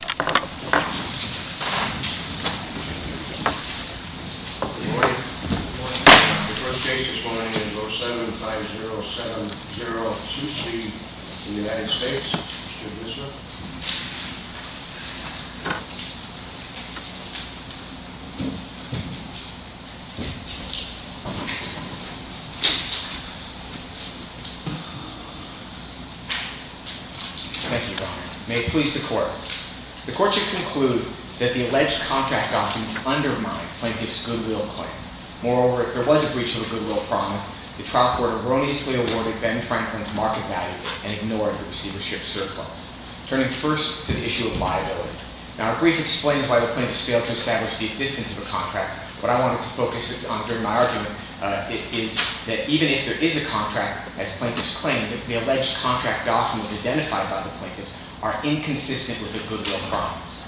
The first case this morning is 07-5070-2C v. United States. Mr. Guzman. Thank you, Your Honor. May it please the Court. The Court should conclude that the alleged contract documents undermine Plaintiff's goodwill claim. Moreover, if there was a breach of the goodwill promise, the trial court erroneously awarded Ben Franklin's market value and ignored the receivership surplus, turning first to the issue of liability. Now, a brief explanation of why the Plaintiffs failed to establish the existence of a contract. What I wanted to focus on during my argument is that even if there is a contract, as Plaintiffs claim, the alleged contract documents identified by the Plaintiffs are inconsistent with the goodwill promise.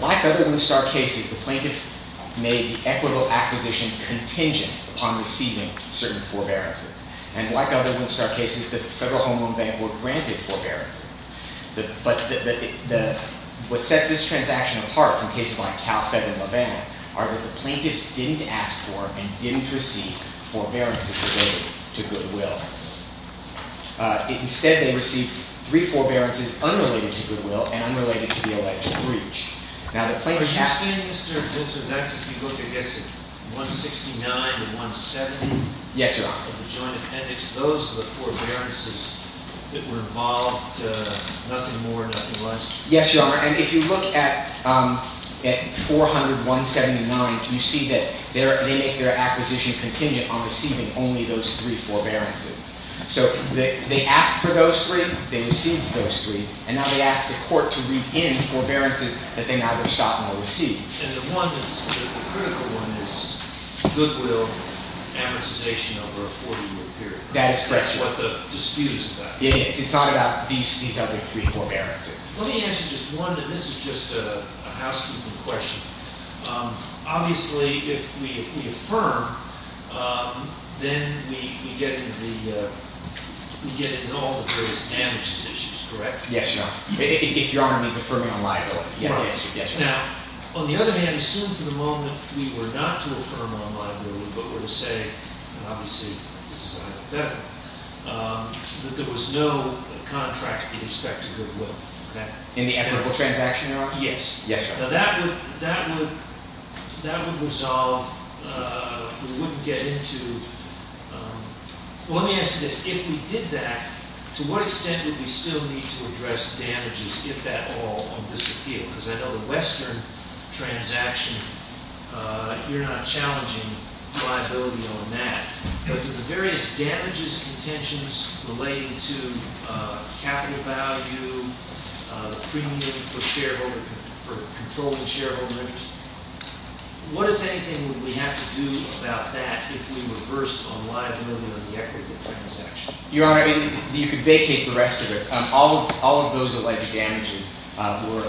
Like other Winstar cases, the Plaintiff made the equitable acquisition contingent upon receiving certain forbearances. And like other Winstar cases, the Federal Home Loan Bank were granted forbearances. But what sets this transaction apart from cases like Cal-Fed and LaVanna are that the Plaintiffs didn't ask for and didn't receive forbearances related to goodwill. Instead, they received three forbearances unrelated to goodwill and unrelated to the alleged breach. Now, the Plaintiffs have… I'm asking, Mr. Winstar, that's if you look, I guess, at 169 and 170… Yes, Your Honor. …of the joint appendix. Those are the forbearances that were involved, nothing more, nothing less? Yes, Your Honor. And if you look at 400, 179, you see that they make their acquisition contingent on receiving only those three forbearances. So they asked for those three, they received those three, and now they ask the court to reap in forbearances that they neither sought nor received. And the one that's… the critical one is goodwill amortization over a 40-year period. That is correct. That's what the dispute is about. It is. It's not about these other three forbearances. Let me answer just one, and this is just a housekeeping question. Obviously, if we affirm, then we get into the… we get into all the various damages issues, correct? Yes, Your Honor. If Your Honor means affirming on liability, yes. Now, on the other hand, assume for the moment we were not to affirm on liability, but were to say, and obviously this is hypothetical, that there was no contract in respect to goodwill. In the equitable transaction, Your Honor? Yes. Yes, Your Honor. Now, that would resolve… we wouldn't get into… well, let me ask you this. If we did that, to what extent would we still need to address damages, if at all, on disappeal? Because I know the Western transaction, you're not challenging liability on that. But to the various damages contentions relating to capital value, premium for controlling shareholder interest, what, if anything, would we have to do about that if we reversed on liability on the equitable transaction? Your Honor, I mean, you could vacate the rest of it. All of those alleged damages were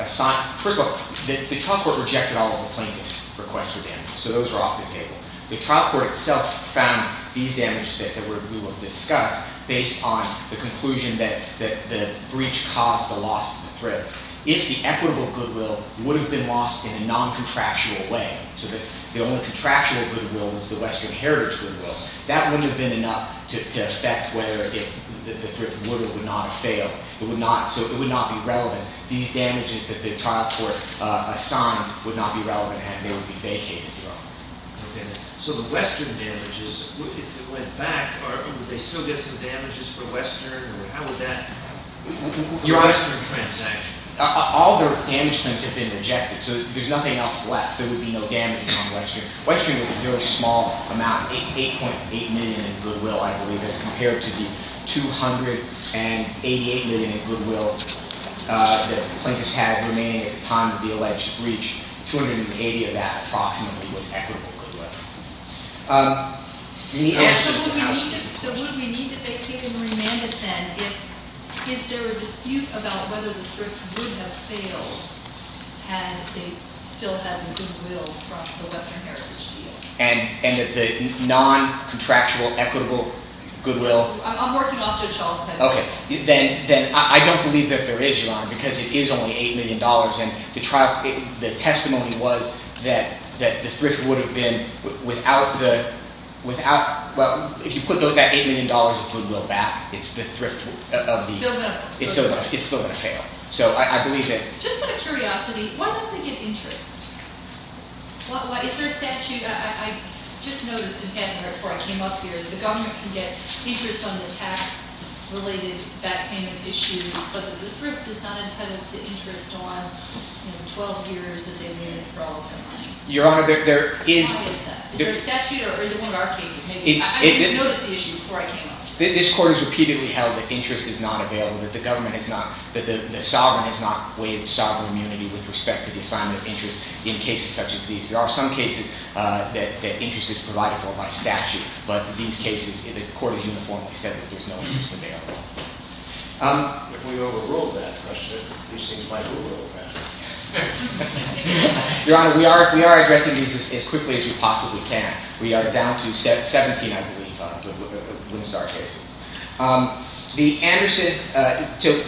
assigned… first of all, the trial court rejected all of the plaintiff's requests for damages, so those are off the table. The trial court itself found these damages that we will discuss based on the conclusion that the breach caused the loss of the thrift. If the equitable goodwill would have been lost in a non-contractual way, so that the only contractual goodwill was the Western Heritage goodwill, that wouldn't have been enough to affect whether the thrift would or would not have failed. It would not… so it would not be relevant. These damages that the trial court assigned would not be relevant and they would be vacated. Your Honor. So the Western damages, if it went back, would they still get some damages for Western or how would that… Your Honor… Western transaction. All the damage claims have been rejected, so there's nothing else left. There would be no damages on Western. Western was a very small amount, 8.8 million in goodwill, I believe, as compared to the 8.8 million in goodwill that the plaintiffs had remaining at the time of the alleged breach. 280 of that approximately was equitable goodwill. So would we need to vacate and remand it then? Is there a dispute about whether the thrift would have failed had they still had the goodwill from the Western Heritage deal? And that the non-contractual equitable goodwill… I'm working off of Charles' head. Okay. Then I don't believe that there is, Your Honor, because it is only 8 million dollars and the testimony was that the thrift would have been without the… well, if you put that 8 million dollars of goodwill back, it's the thrift of the… It's still going to fail. It's still going to fail. So I believe that… Just out of curiosity, why don't they get interest? Is there a statute? I just noticed in Hansenburg before I came up here that the government can get interest on the tax-related back payment issues, but the thrift is not intended to interest on 12 years of immunity for all of their money. Your Honor, there is… How is that? Is there a statute or is it one of our cases? I didn't even notice the issue before I came up here. This Court has repeatedly held that interest is not available, that the government is not, that the sovereign is not waived sovereign immunity with respect to the assignment of interest in cases such as these. There are some cases that interest is provided for by statute, but these cases, the Court has uniformly said that there's no interest available. If we overruled that question, it seems like we're overruled, Patrick. Your Honor, we are addressing these as quickly as we possibly can. We are down to 17, I believe, Windstar cases. The Anderson…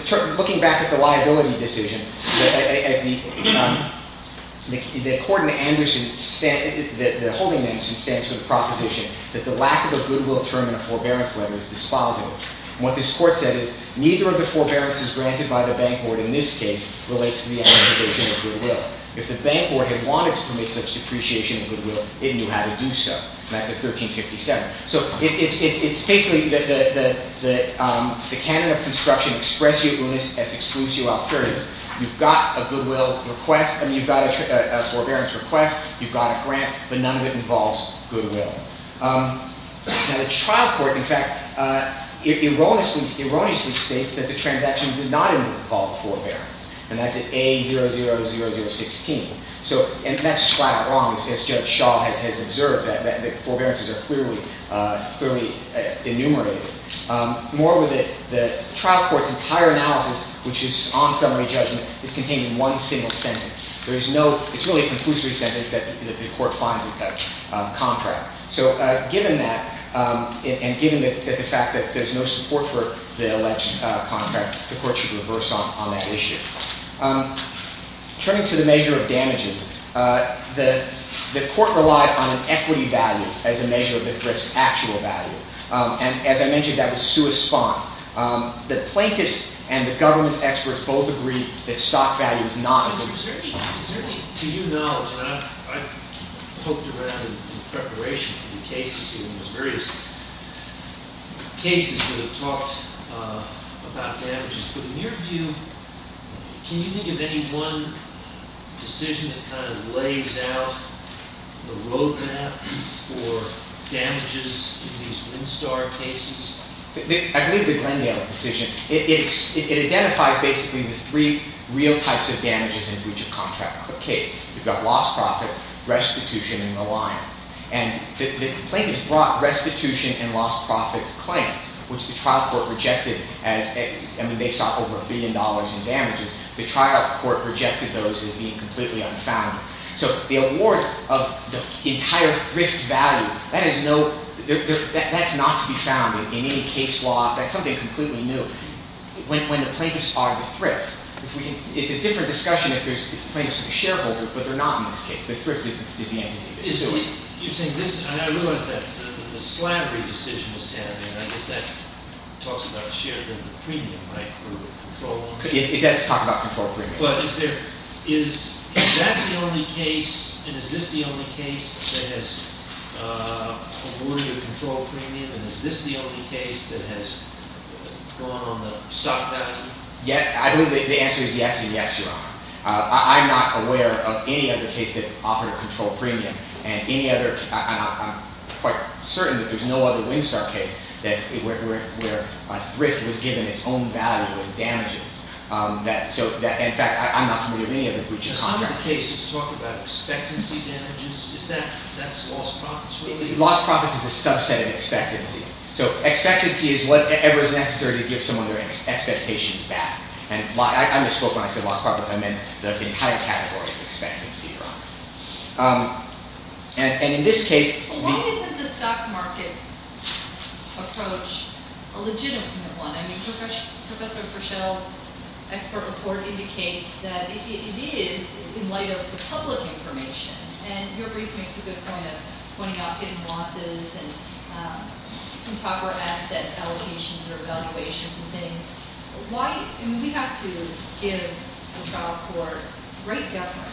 So, looking back at the liability decision, the court in Anderson, the holding in Anderson stands for the proposition that the lack of a goodwill term in a forbearance letter is dispositive. What this Court said is, neither of the forbearances granted by the bank board in this case relates to the acquisition of goodwill. If the bank board had wanted to permit such depreciation of goodwill, it knew how to do so. That's at 1357. So, it's basically the canon of construction, express your willingness as excludes your alternatives. You've got a goodwill request and you've got a forbearance request. You've got a grant, but none of it involves goodwill. Now, the trial court, in fact, erroneously states that the transaction did not involve forbearance, and that's at A000016. And that's flat out wrong, as Judge Shaw has observed. The forbearances are clearly enumerated. Moreover, the trial court's entire analysis, which is on summary judgment, is contained in one single sentence. It's really a conclusory sentence that the court finds in that contract. So, given that, and given the fact that there's no support for the alleged contract, the court should reverse on that issue. Turning to the measure of damages, the court relied on an equity value as a measure of the thrift's actual value. And, as I mentioned, that was Sua Spahn. The plaintiffs and the government's experts both agreed that stock value is not a good To your knowledge, and I've poked around in preparation for the cases, in various cases that have talked about damages, but in your view, can you think of any one decision that kind of lays out the road map for damages in these Windstar cases? I believe the Glendale decision, it identifies basically the three real types of damages in each contract case. You've got lost profits, restitution, and reliance. And the plaintiffs brought restitution and lost profits claims, which the trial court rejected as, I mean, they saw over a billion dollars in damages. The trial court rejected those as being completely unfounded. So, the award of the entire thrift value, that's not to be found in any case law. That's something completely new. When the plaintiffs are the thrift, it's a different discussion if the plaintiffs are the shareholder, but they're not in this case. The thrift is the entity that's suing. You're saying this, and I realize that the slavery decision was tabbed in. I guess that talks about the shareholder premium, right, for the control loan. It does talk about control premium. But is that the only case, and is this the only case that has awarded a control premium, and is this the only case that has gone on the stock value? I believe the answer is yes and yes, Your Honor. I'm not aware of any other case that offered a control premium. And I'm quite certain that there's no other Winstar case where a thrift was given its own value as damages. So, in fact, I'm not familiar with any other breach of contract. Does one of the cases talk about expectancy damages? Is that lost profits? Lost profits is a subset of expectancy. So, expectancy is whatever is necessary to give someone their expectation back. And I misspoke when I said lost profits. I meant the entire category is expectancy, Your Honor. And in this case, the… Why isn't the stock market approach a legitimate one? I mean, Professor Verschel's expert report indicates that it is in light of the public information. And your brief makes a good point of pointing out hidden losses and improper asset allocations or valuations and things. Why? I mean, we have to give the trial court great deference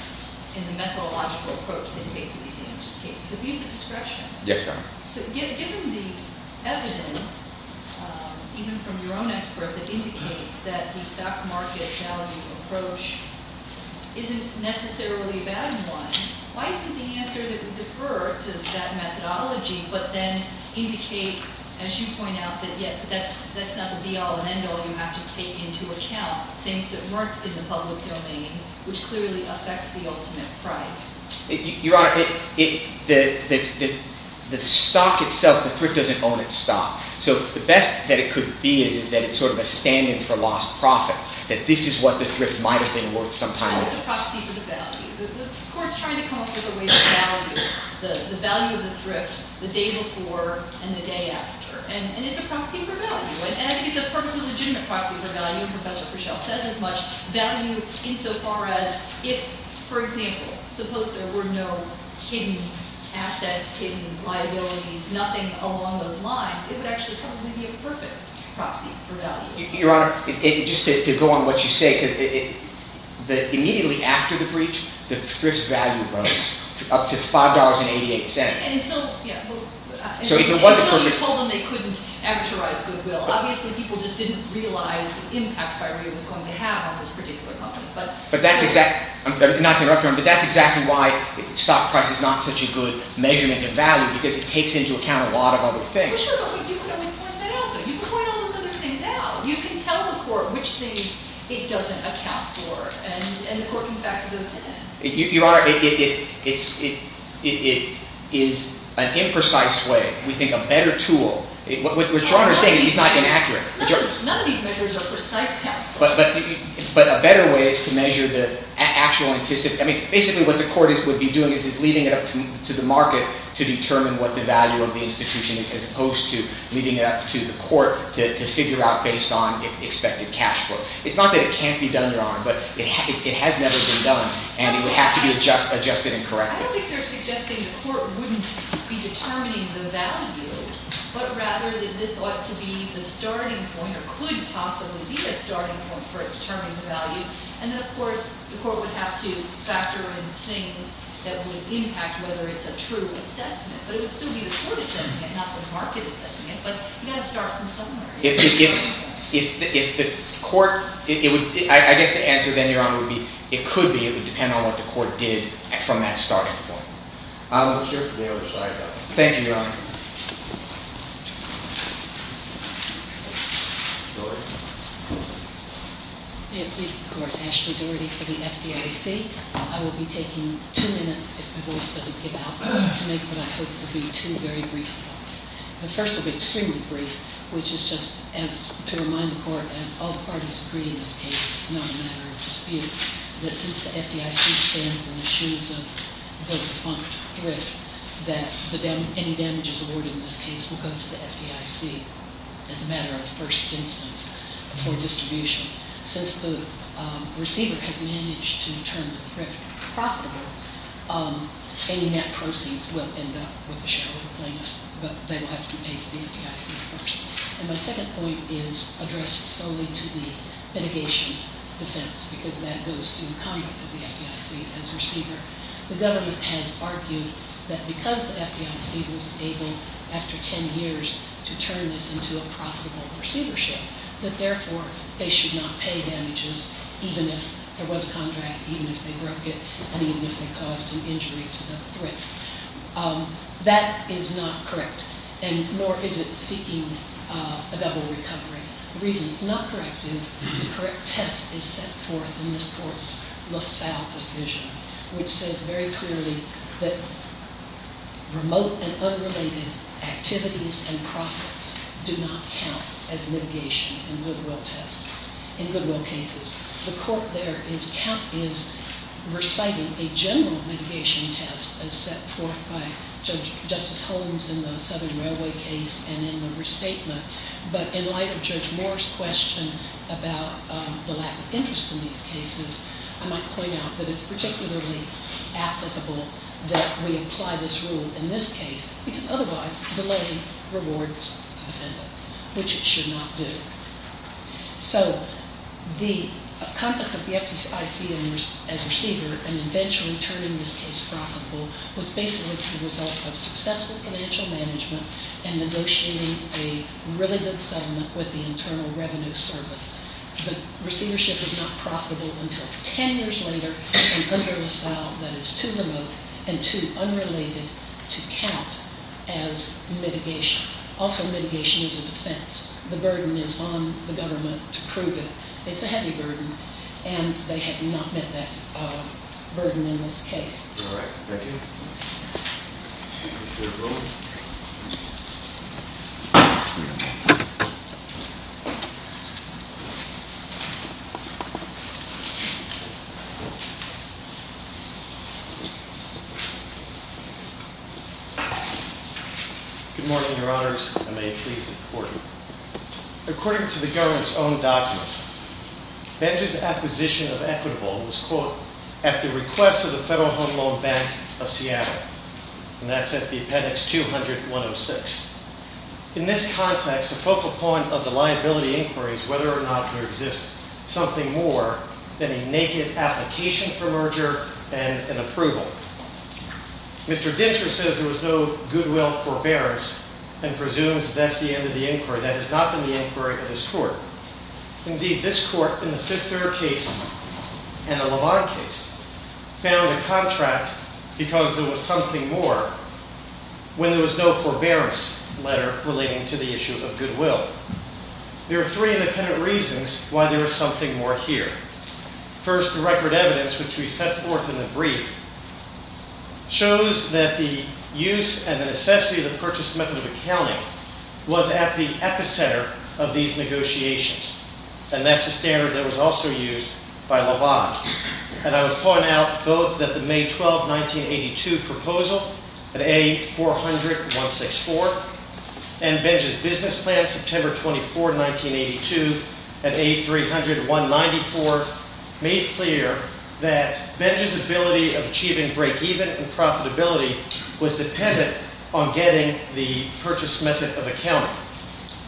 in the methodological approach they take to these damages cases. Abuse of discretion. Yes, Your Honor. So, given the evidence, even from your own expert, that indicates that the stock market value approach isn't necessarily a bad one, why isn't the answer to defer to that methodology but then indicate, as you point out, that that's not the be-all and end-all you have to take into account, things that weren't in the public domain, which clearly affects the ultimate price? Your Honor, the stock itself, the thrift doesn't own its stock. So, the best that it could be is that it's sort of a stand-in for lost profit, that this is what the thrift might have been worth some time ago. It's a proxy for the value. The court's trying to come up with a way to value the value of the thrift the day before and the day after. And it's a proxy for value. And I think it's a perfectly legitimate proxy for value, and Professor Fischel says as much, value insofar as if, for example, suppose there were no hidden assets, hidden liabilities, nothing along those lines, it would actually probably be a perfect proxy for value. Your Honor, just to go on what you say, because immediately after the breach, the thrift's value rose up to $5.88. Until, yeah, until you told them they couldn't averagize goodwill. Obviously, people just didn't realize the impact FIREA was going to have on this particular company. But that's exactly, not to interrupt your Honor, but that's exactly why the stock price is not such a good measurement of value, because it takes into account a lot of other things. Well, sure, you could always point that out, but you could point all those other things out. You can tell the court which things it doesn't account for, and the corking factor goes to 10. Your Honor, it is an imprecise way. We think a better tool. What your Honor is saying, he's not inaccurate. None of these measures are precise, counsel. But a better way is to measure the actual anticipated. I mean, basically what the court would be doing is leading it up to the market to determine what the value of the institution is, as opposed to leading it up to the court to figure out based on expected cash flow. It's not that it can't be done, Your Honor, but it has never been done. And it would have to be adjusted and corrected. I don't think they're suggesting the court wouldn't be determining the value, but rather that this ought to be the starting point or could possibly be the starting point for determining the value. And then, of course, the court would have to factor in things that would impact whether it's a true assessment. But it would still be the court assessing it, not the market assessing it. But you've got to start from somewhere. If the court—I guess the answer then, Your Honor, would be it could be. It would depend on what the court did from that starting point. I'm not sure if the other side got that. Thank you, Your Honor. May it please the Court. Ashley Doherty for the FDIC. I will be taking two minutes, if my voice doesn't give out, to make what I hope will be two very brief points. The first will be extremely brief, which is just to remind the court, as all parties agree in this case, it's not a matter of dispute, that since the FDIC stands in the shoes of the defunct Thrift, that any damages awarded in this case will go to the FDIC as a matter of first instance for distribution. Since the receiver has managed to turn the Thrift profitable, any net proceeds will end up with the shareholder plaintiffs, but they will have to pay to the FDIC first. And my second point is addressed solely to the litigation defense, because that goes to the conduct of the FDIC as receiver. The government has argued that because the FDIC was able, after 10 years, to turn this into a profitable receivership, that therefore they should not pay damages, even if there was a contract, even if they broke it, and even if they caused an injury to the Thrift. That is not correct, and nor is it seeking a double recovery. The reason it's not correct is the correct test is set forth in this court's LaSalle decision, which says very clearly that remote and unrelated activities and profits do not count as mitigation in goodwill tests, in goodwill cases. The court there is reciting a general mitigation test as set forth by Judge Justice Holmes in the Southern Railway case and in the restatement, but in light of Judge Moore's question about the lack of interest in these cases, I might point out that it's particularly applicable that we apply this rule in this case, because otherwise delay rewards defendants, which it should not do. So the conduct of the FDIC as receiver, and eventually turning this case profitable, was basically the result of successful financial management and negotiating a really good settlement with the Internal Revenue Service. The receivership is not profitable until 10 years later and under LaSalle, that is too remote and too unrelated to count as mitigation. Also, mitigation is a defense. The burden is on the government to prove it. It's a heavy burden, and they have not met that burden in this case. All right, thank you. Good morning, Your Honors, and may it please the Court. According to the government's own documents, Benj's acquisition of Equitable was caught at the request of the Federal Home Loan Bank of Seattle, and that's at the Appendix 200-106. In this context, the focal point of the liability inquiry is whether or not there exists something more than a naked application for merger and an approval. Mr. Dinscher says there was no goodwill forbearance and presumes that's the end of the inquiry. That has not been the inquiry of this Court. Indeed, this Court, in the Fifth Third case and the LaVon case, found a contract because there was something more when there was no forbearance letter relating to the issue of goodwill. There are three independent reasons why there is something more here. First, the record evidence, which we set forth in the brief, shows that the use and the necessity of the purchase method of accounting was at the epicenter of these negotiations, and that's the standard that was also used by LaVon. And I would point out both that the May 12, 1982, proposal at A400-164 and Benj's business plan, September 24, 1982, at A300-194, made clear that Benj's ability of achieving break-even and profitability was dependent on getting the purchase method of accounting.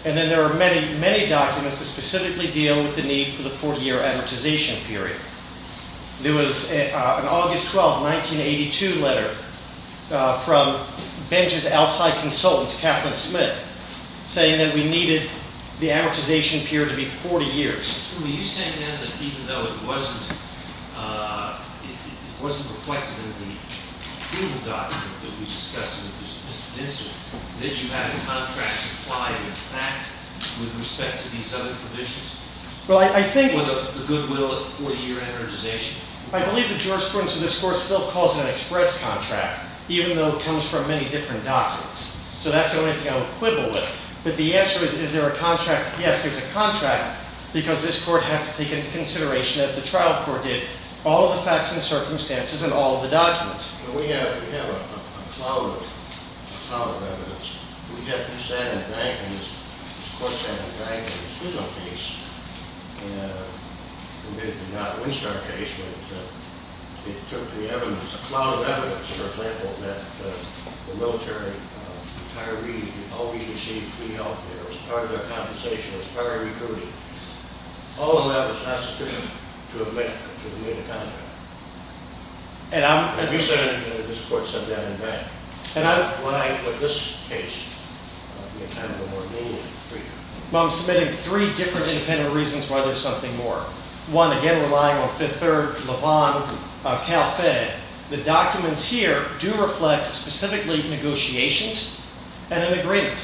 And then there are many, many documents that specifically deal with the need for the 40-year amortization period. There was an August 12, 1982, letter from Benj's outside consultants, Kaplan Smith, saying that we needed the amortization period to be 40 years. Are you saying, then, that even though it wasn't reflected in the approval document that we discussed with Mr. Dinsel, did you have any contracts applied in fact with respect to these other provisions? Well, I think the goodwill 40-year amortization. I believe the jurisprudence of this Court still calls it an express contract, even though it comes from many different documents. So that's the only thing I would quibble with. But the answer is, is there a contract? Yes, there's a contract. Because this Court has to take into consideration, as the trial court did, all of the facts and circumstances and all of the documents. We have a cloud of evidence. We have to stand and thank, and this Court has to thank, the Schuylkill case. We did not winch our case, but it took the evidence, a cloud of evidence, for example, that the military retirees always received free health care as part of their compensation, as part of recruiting. All of that was not sufficient to admit to the need of contract. And you said this Court said that in fact. Why would this case be a kind of a more lenient for you? Well, I'm submitting three different independent reasons why there's something more. One, again, relying on Fifth Third, Le Bon, Cal Fed. The documents here do reflect specifically negotiations and an agreement.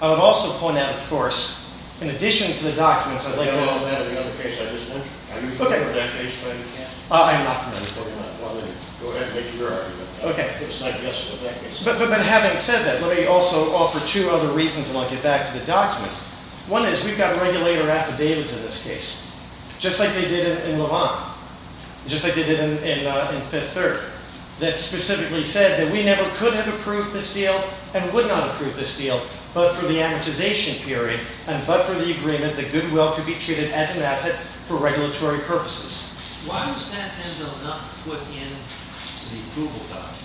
I would also point out, of course, in addition to the documents, I'd like to... Well, that and the other case I just mentioned. Are you familiar with that case by any chance? I'm not familiar. Well, then, go ahead and make your argument. It's not just with that case. But having said that, let me also offer two other reasons and I'll get back to the documents. One is we've got regulator affidavits in this case, just like they did in Le Bon, just like they did in Fifth Third, that specifically said that we never could have approved this deal and would not approve this deal, but for the amortization period and but for the agreement that goodwill could be treated as an asset for regulatory purposes. Why was that then not put into the approval document?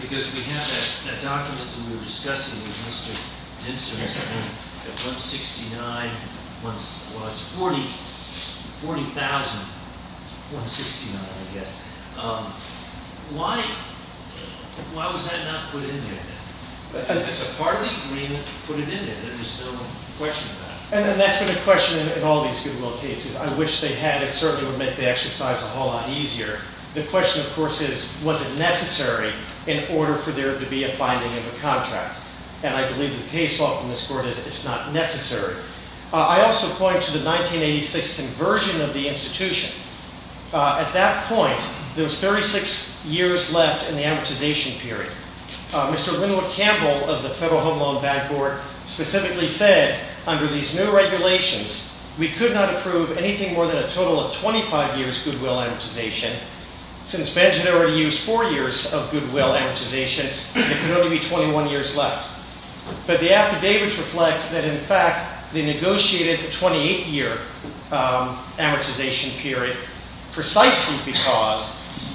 Because we have that document that we were discussing with Mr. Dimson, I think, at 169... Well, it's 40,000... 169, I guess. Why was that not put into it? If it's a part of the agreement, put it in there. There's no question about it. And that's been a question in all these goodwill cases. I wish they had. It certainly would make the exercise a whole lot easier. The question, of course, is was it necessary in order for there to be a finding in the contract? And I believe the case law from this court is it's not necessary. I also point to the 1986 conversion of the institution. At that point, there was 36 years left in the amortization period. Mr. Wynwood Campbell of the Federal Home Loan Bank Board specifically said, under these new regulations, we could not approve anything more than a total of 25 years goodwill amortization. Since Benj had already used four years of goodwill amortization, there could only be 21 years left. But the affidavits reflect that, in fact, they negotiated a 28-year amortization period precisely because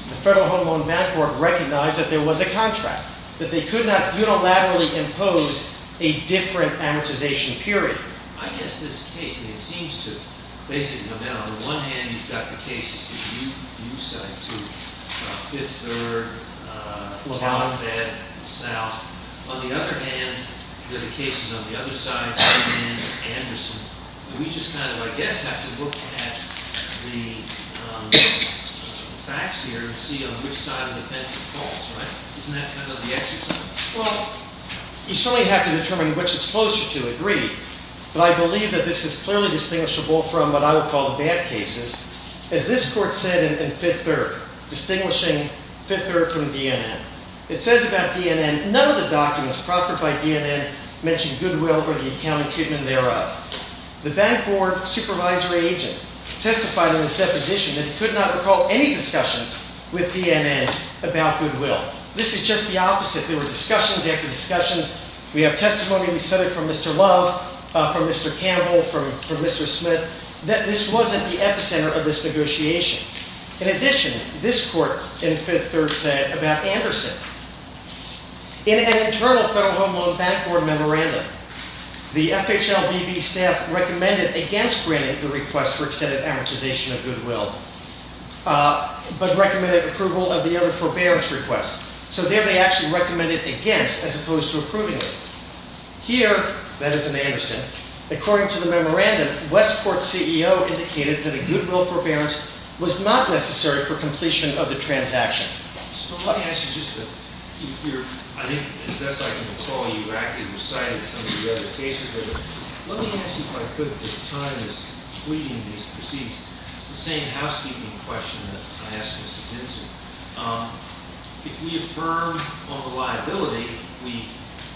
the Federal Home Loan Bank Board recognized that there was a contract, that they could not unilaterally impose a different amortization period. I guess this case, I mean, it seems to basically come down. On the one hand, you've got the cases that you cited, too, about Fifth Third, Long Bed, South. On the other hand, there are the cases on the other side about D&N and Anderson. We just kind of, I guess, have to look at the facts here to see on which side of the fence it falls, right? Isn't that kind of the exercise? Well, you certainly have to determine which it's closer to. Agreed. But I believe that this is clearly distinguishable from what I would call the bad cases. As this court said in Fifth Third, distinguishing Fifth Third from D&N, it says about D&N, none of the documents proffered by D&N mention goodwill or the accounting treatment thereof. The bank board supervisory agent testified in this deposition that he could not recall any discussions with D&N about goodwill. This is just the opposite. There were discussions after discussions. We have testimony. We said it from Mr. Love, from Mr. Campbell, from Mr. Smith, that this wasn't the epicenter of this negotiation. In addition, this court in Fifth Third said about Anderson, in an internal federal home loan bank board memorandum, the FHLBB staff recommended against granting the request for extended amortization of goodwill, but recommended approval of the other forbearance requests. So there they actually recommended against, as opposed to approvingly. Here, that is in Anderson, according to the memorandum, Westport's CEO indicated that a goodwill forbearance was not necessary for completion of the transaction. So let me ask you just to, if you're, I think, as best I can recall, you actively recited some of the other cases. Let me ask you, if I could, at this time, this tweeting, these proceeds. It's the same housekeeping question that I asked Mr. Dinser. If we affirm on the liability, we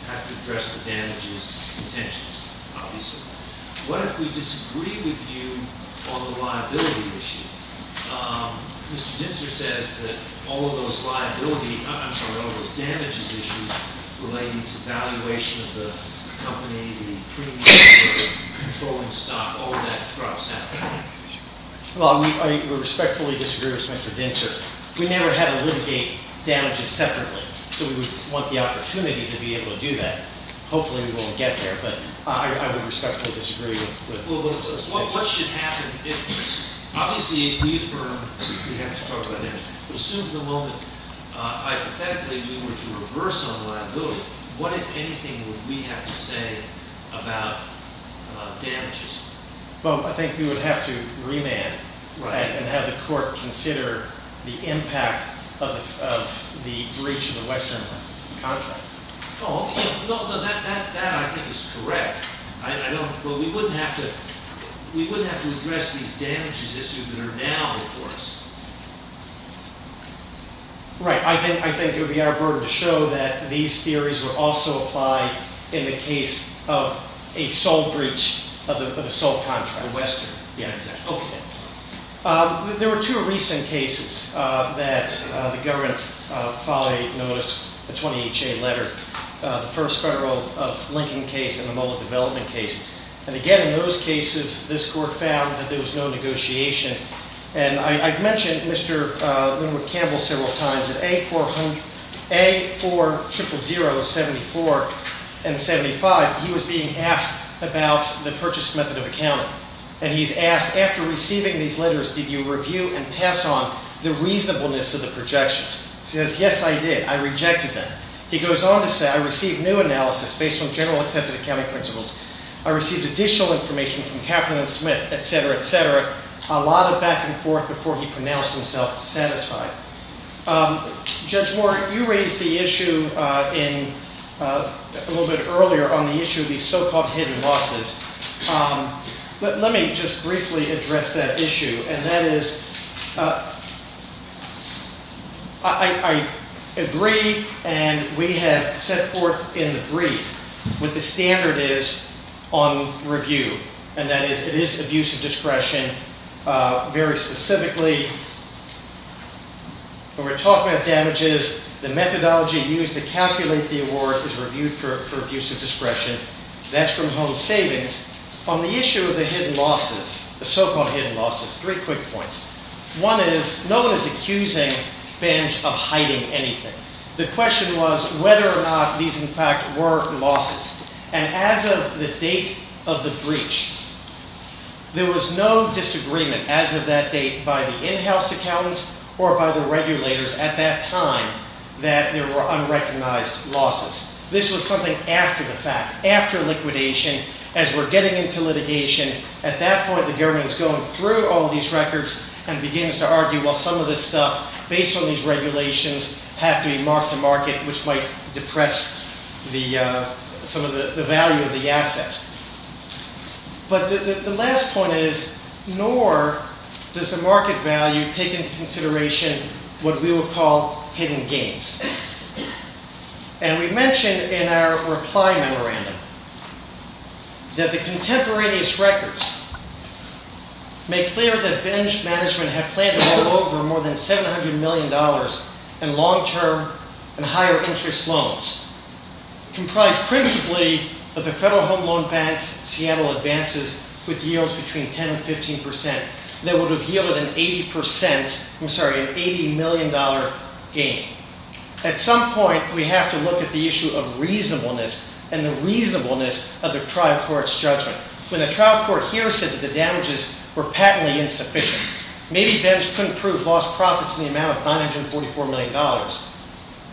have to address the damages and tensions, obviously. What if we disagree with you on the liability issue? Mr. Dinser says that all of those liability, I'm sorry, all of those damages issues relating to valuation of the company, the premiums, the controlling stock, all of that drops out. Well, I respectfully disagree with Mr. Dinser. We never had to litigate damages separately, so we would want the opportunity to be able to do that. but I would respectfully disagree with Mr. Dinser. What should happen if, obviously, if we affirm that we have to talk about damages, assume for the moment, hypothetically, we were to reverse on liability, what, if anything, would we have to say about damages? Well, I think you would have to remand, right, and have the court consider the impact of the breach of the Western contract. Oh, no, that I think is correct. I don't, but we wouldn't have to, we wouldn't have to address these damages issues that are now before us. Right, I think it would be our burden to show that these theories were also applied in the case of a sole breach of the sole contract. The Western contract. Yeah, exactly. Okay. There were two recent cases that the government finally noticed, a 20-H.A. letter. The first Federal of Lincoln case and the Muller Development case. And again, in those cases, this court found that there was no negotiation. And I've mentioned Mr. Linwood-Campbell several times that A4000-74 and 75, he was being asked about the purchase method of accounting. And he's asked, after receiving these letters, did you review and pass on the reasonableness of the projections? He says, yes, I did. I rejected them. He goes on to say, I received new analysis based on general accepted accounting principles. I received additional information from Katherine and Smith, et cetera, et cetera. A lot of back and forth before he pronounced himself satisfied. Judge Moore, you raised the issue a little bit earlier on the issue of these so-called hidden losses. Let me just briefly address that issue. And that is, I agree and we have set forth in the brief what the standard is on review. And that is, it is abusive discretion. Very specifically, when we're talking about damages, the methodology used to calculate the award is reviewed for abusive discretion. That's from home savings. On the issue of the hidden losses, the so-called hidden losses, three quick points. One is, no one is accusing Benj of hiding anything. The question was whether or not these, in fact, were losses. And as of the date of the breach, there was no disagreement as of that date by the in-house accountants or by the regulators at that time that there were unrecognized losses. This was something after the fact, after liquidation, as we're getting into litigation. At that point, the government's going through all these records and begins to argue, well, some of this stuff, based on these regulations, have to be mark-to-market, which might depress some of the value of the assets. But the last point is, nor does the market value take into consideration what we would call hidden gains. And we mentioned in our reply memorandum that the contemporaneous records make clear that Benj Management had planned to roll over more than $700 million in long-term and higher-interest loans comprised principally of the Federal Home Loan Bank Seattle Advances with yields between 10% and 15%. They would have yielded an 80% I'm sorry, an $80 million gain. At some point, we have to look at the issue of reasonableness and the reasonableness of the trial court's judgment. When the trial court here said that the damages were patently insufficient, maybe Benj couldn't prove lost profits in the amount of $944 million.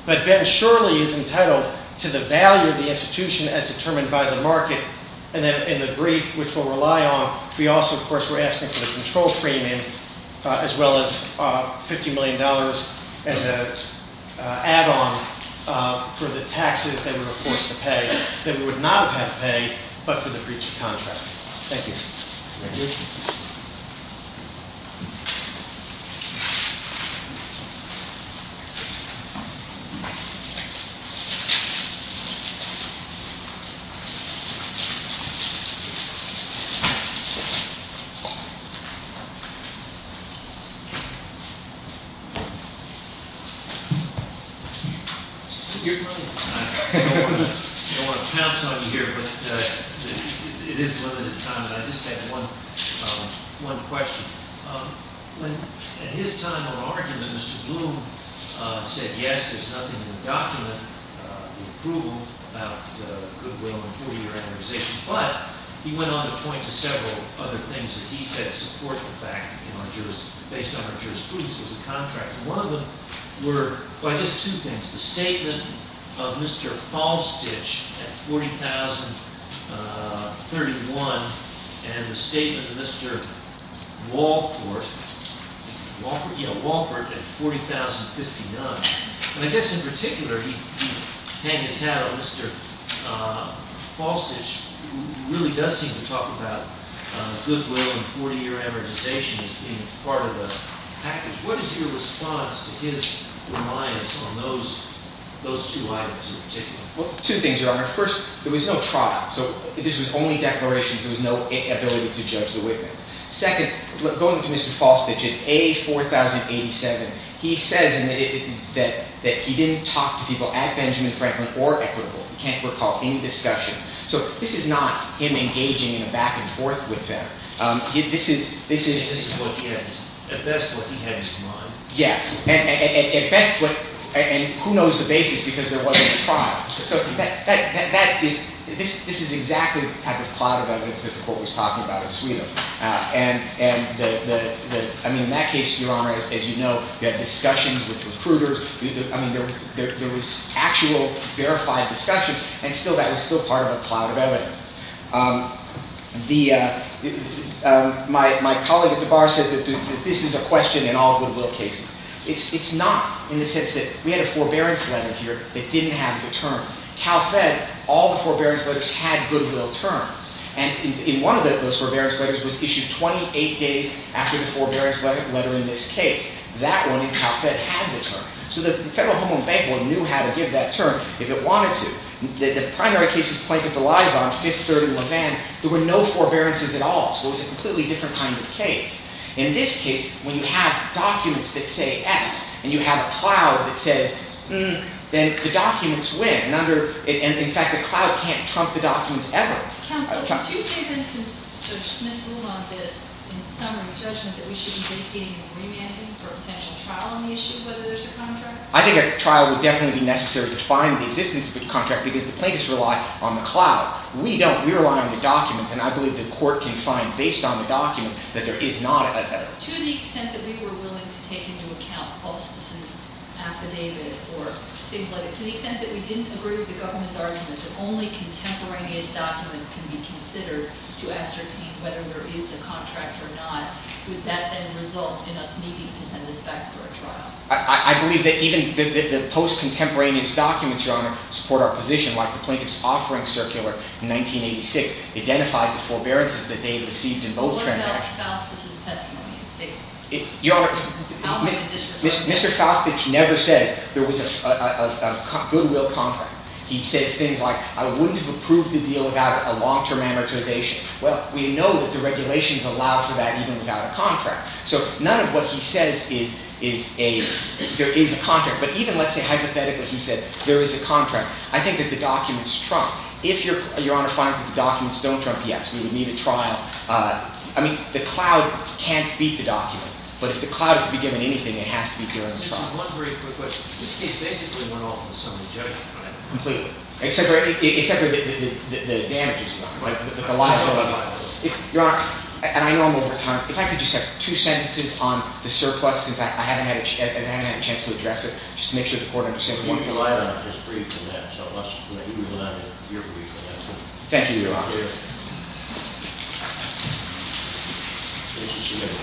But Benj surely is entitled to the value of the institution as determined by the market. And in the brief, which we'll rely on, we also, of course, were asking for the control premium as well as $50 million as an add-on for the taxes that we were forced to pay that we would not have had to pay but for the breach of contract. Thank you. I don't want to pounce on you here, but it is limited time, and I just have one question. When, at his time of argument, Mr. Bloom said, yes, there's nothing in the document, the approval, about goodwill and 40-year amortization, but he went on to point to several other things that he said support the fact based on our jurisprudence was a contract. One of them were, by this, two things. The statement of Mr. Falstich at $40,031 and the statement of Mr. Walpert at $40,059. And I guess, in particular, he hanged his hat on Mr. Falstich, who really does seem to talk about goodwill and 40-year amortization as being part of the package. What is your response to his reliance on those two items in particular? Well, two things, Your Honor. First, there was no trial. So this was only declarations. There was no ability to judge the witness. Second, going to Mr. Falstich at A4087, he says that he didn't talk to people at Benjamin Franklin or at Goodwill. He can't recall any discussion. So this is not him engaging in a back-and-forth with them. This is... At best, what he had in mind. Yes. At best, and who knows the basis because there wasn't a trial. So that is... This is exactly the type of cloud of evidence that the Court was talking about in Sweden. And the... I mean, in that case, Your Honor, as you know, you had discussions with recruiters. I mean, there was actual, verified discussion. And still, that was still part of a cloud of evidence. The... My colleague at the bar says that this is a question in all goodwill cases. It's not in the sense that we had a forbearance letter that didn't have the terms. CalFed, all the forbearance letters had goodwill terms. And in one of those forbearance letters was issued 28 days after the forbearance letter in this case. That one in CalFed had the term. So the Federal Home Owned Bank knew how to give that term if it wanted to. The primary cases Plankett-DeLisle, Fifth Third and Levin, there were no forbearances at all. So it was a completely different kind of case. In this case, when you have documents that say X and you have a cloud that says, hmm, then the documents win. In fact, the cloud can't trump the documents ever. Counsel, do you think that since Judge Smith ruled on this in summary judgment that we should be dedicating a remanding for a potential trial on the issue of whether there's a contract? I think a trial would definitely be necessary to find the existence of a contract because the plaintiffs rely on the cloud. We don't. We rely on the documents and I believe the court can find based on the document that there is not a... To the extent that we were willing to take into account Faustus's affidavit or things like it, to the extent that we didn't agree with the government's argument that only contemporaneous documents can be considered to ascertain whether there is a contract or not, would that then result in us needing to send this back for a trial? I believe that even the post-contemporaneous Your Honor, support our position like the plaintiff's offering circular in 1986 identifies the forbearances that they received in both transactions. What about Faustus's testimony? Your Honor... How many editions have you seen? Mr. Faustus never says there was a goodwill contract. He says things like I wouldn't have approved the deal without a long-term amortization. Well, we know that the regulations allow for that even without a contract. So, none of what he says is a... There is a contract. But even, let's say, hypothetically, he said there is a contract. I think that the documents trump. If, Your Honor, find that the documents don't trump, yes, we would need a trial. I mean, the cloud can't beat the documents. But if the cloud is to be given anything, it has to be given a trial. Just one very quick question. This case basically went off in the sum of the judgment, Completely. Except for the damages, Your Honor. Right. The liability. Your Honor, and I know I'm over time, if I could just have two sentences on the surplus since I haven't had a chance to address it just to make sure the Court understands more. The liability is free from that, so let's move on to your brief, Your Honor. Thank you, Your Honor. Thank you. Thank you, Your Honor. Thank you.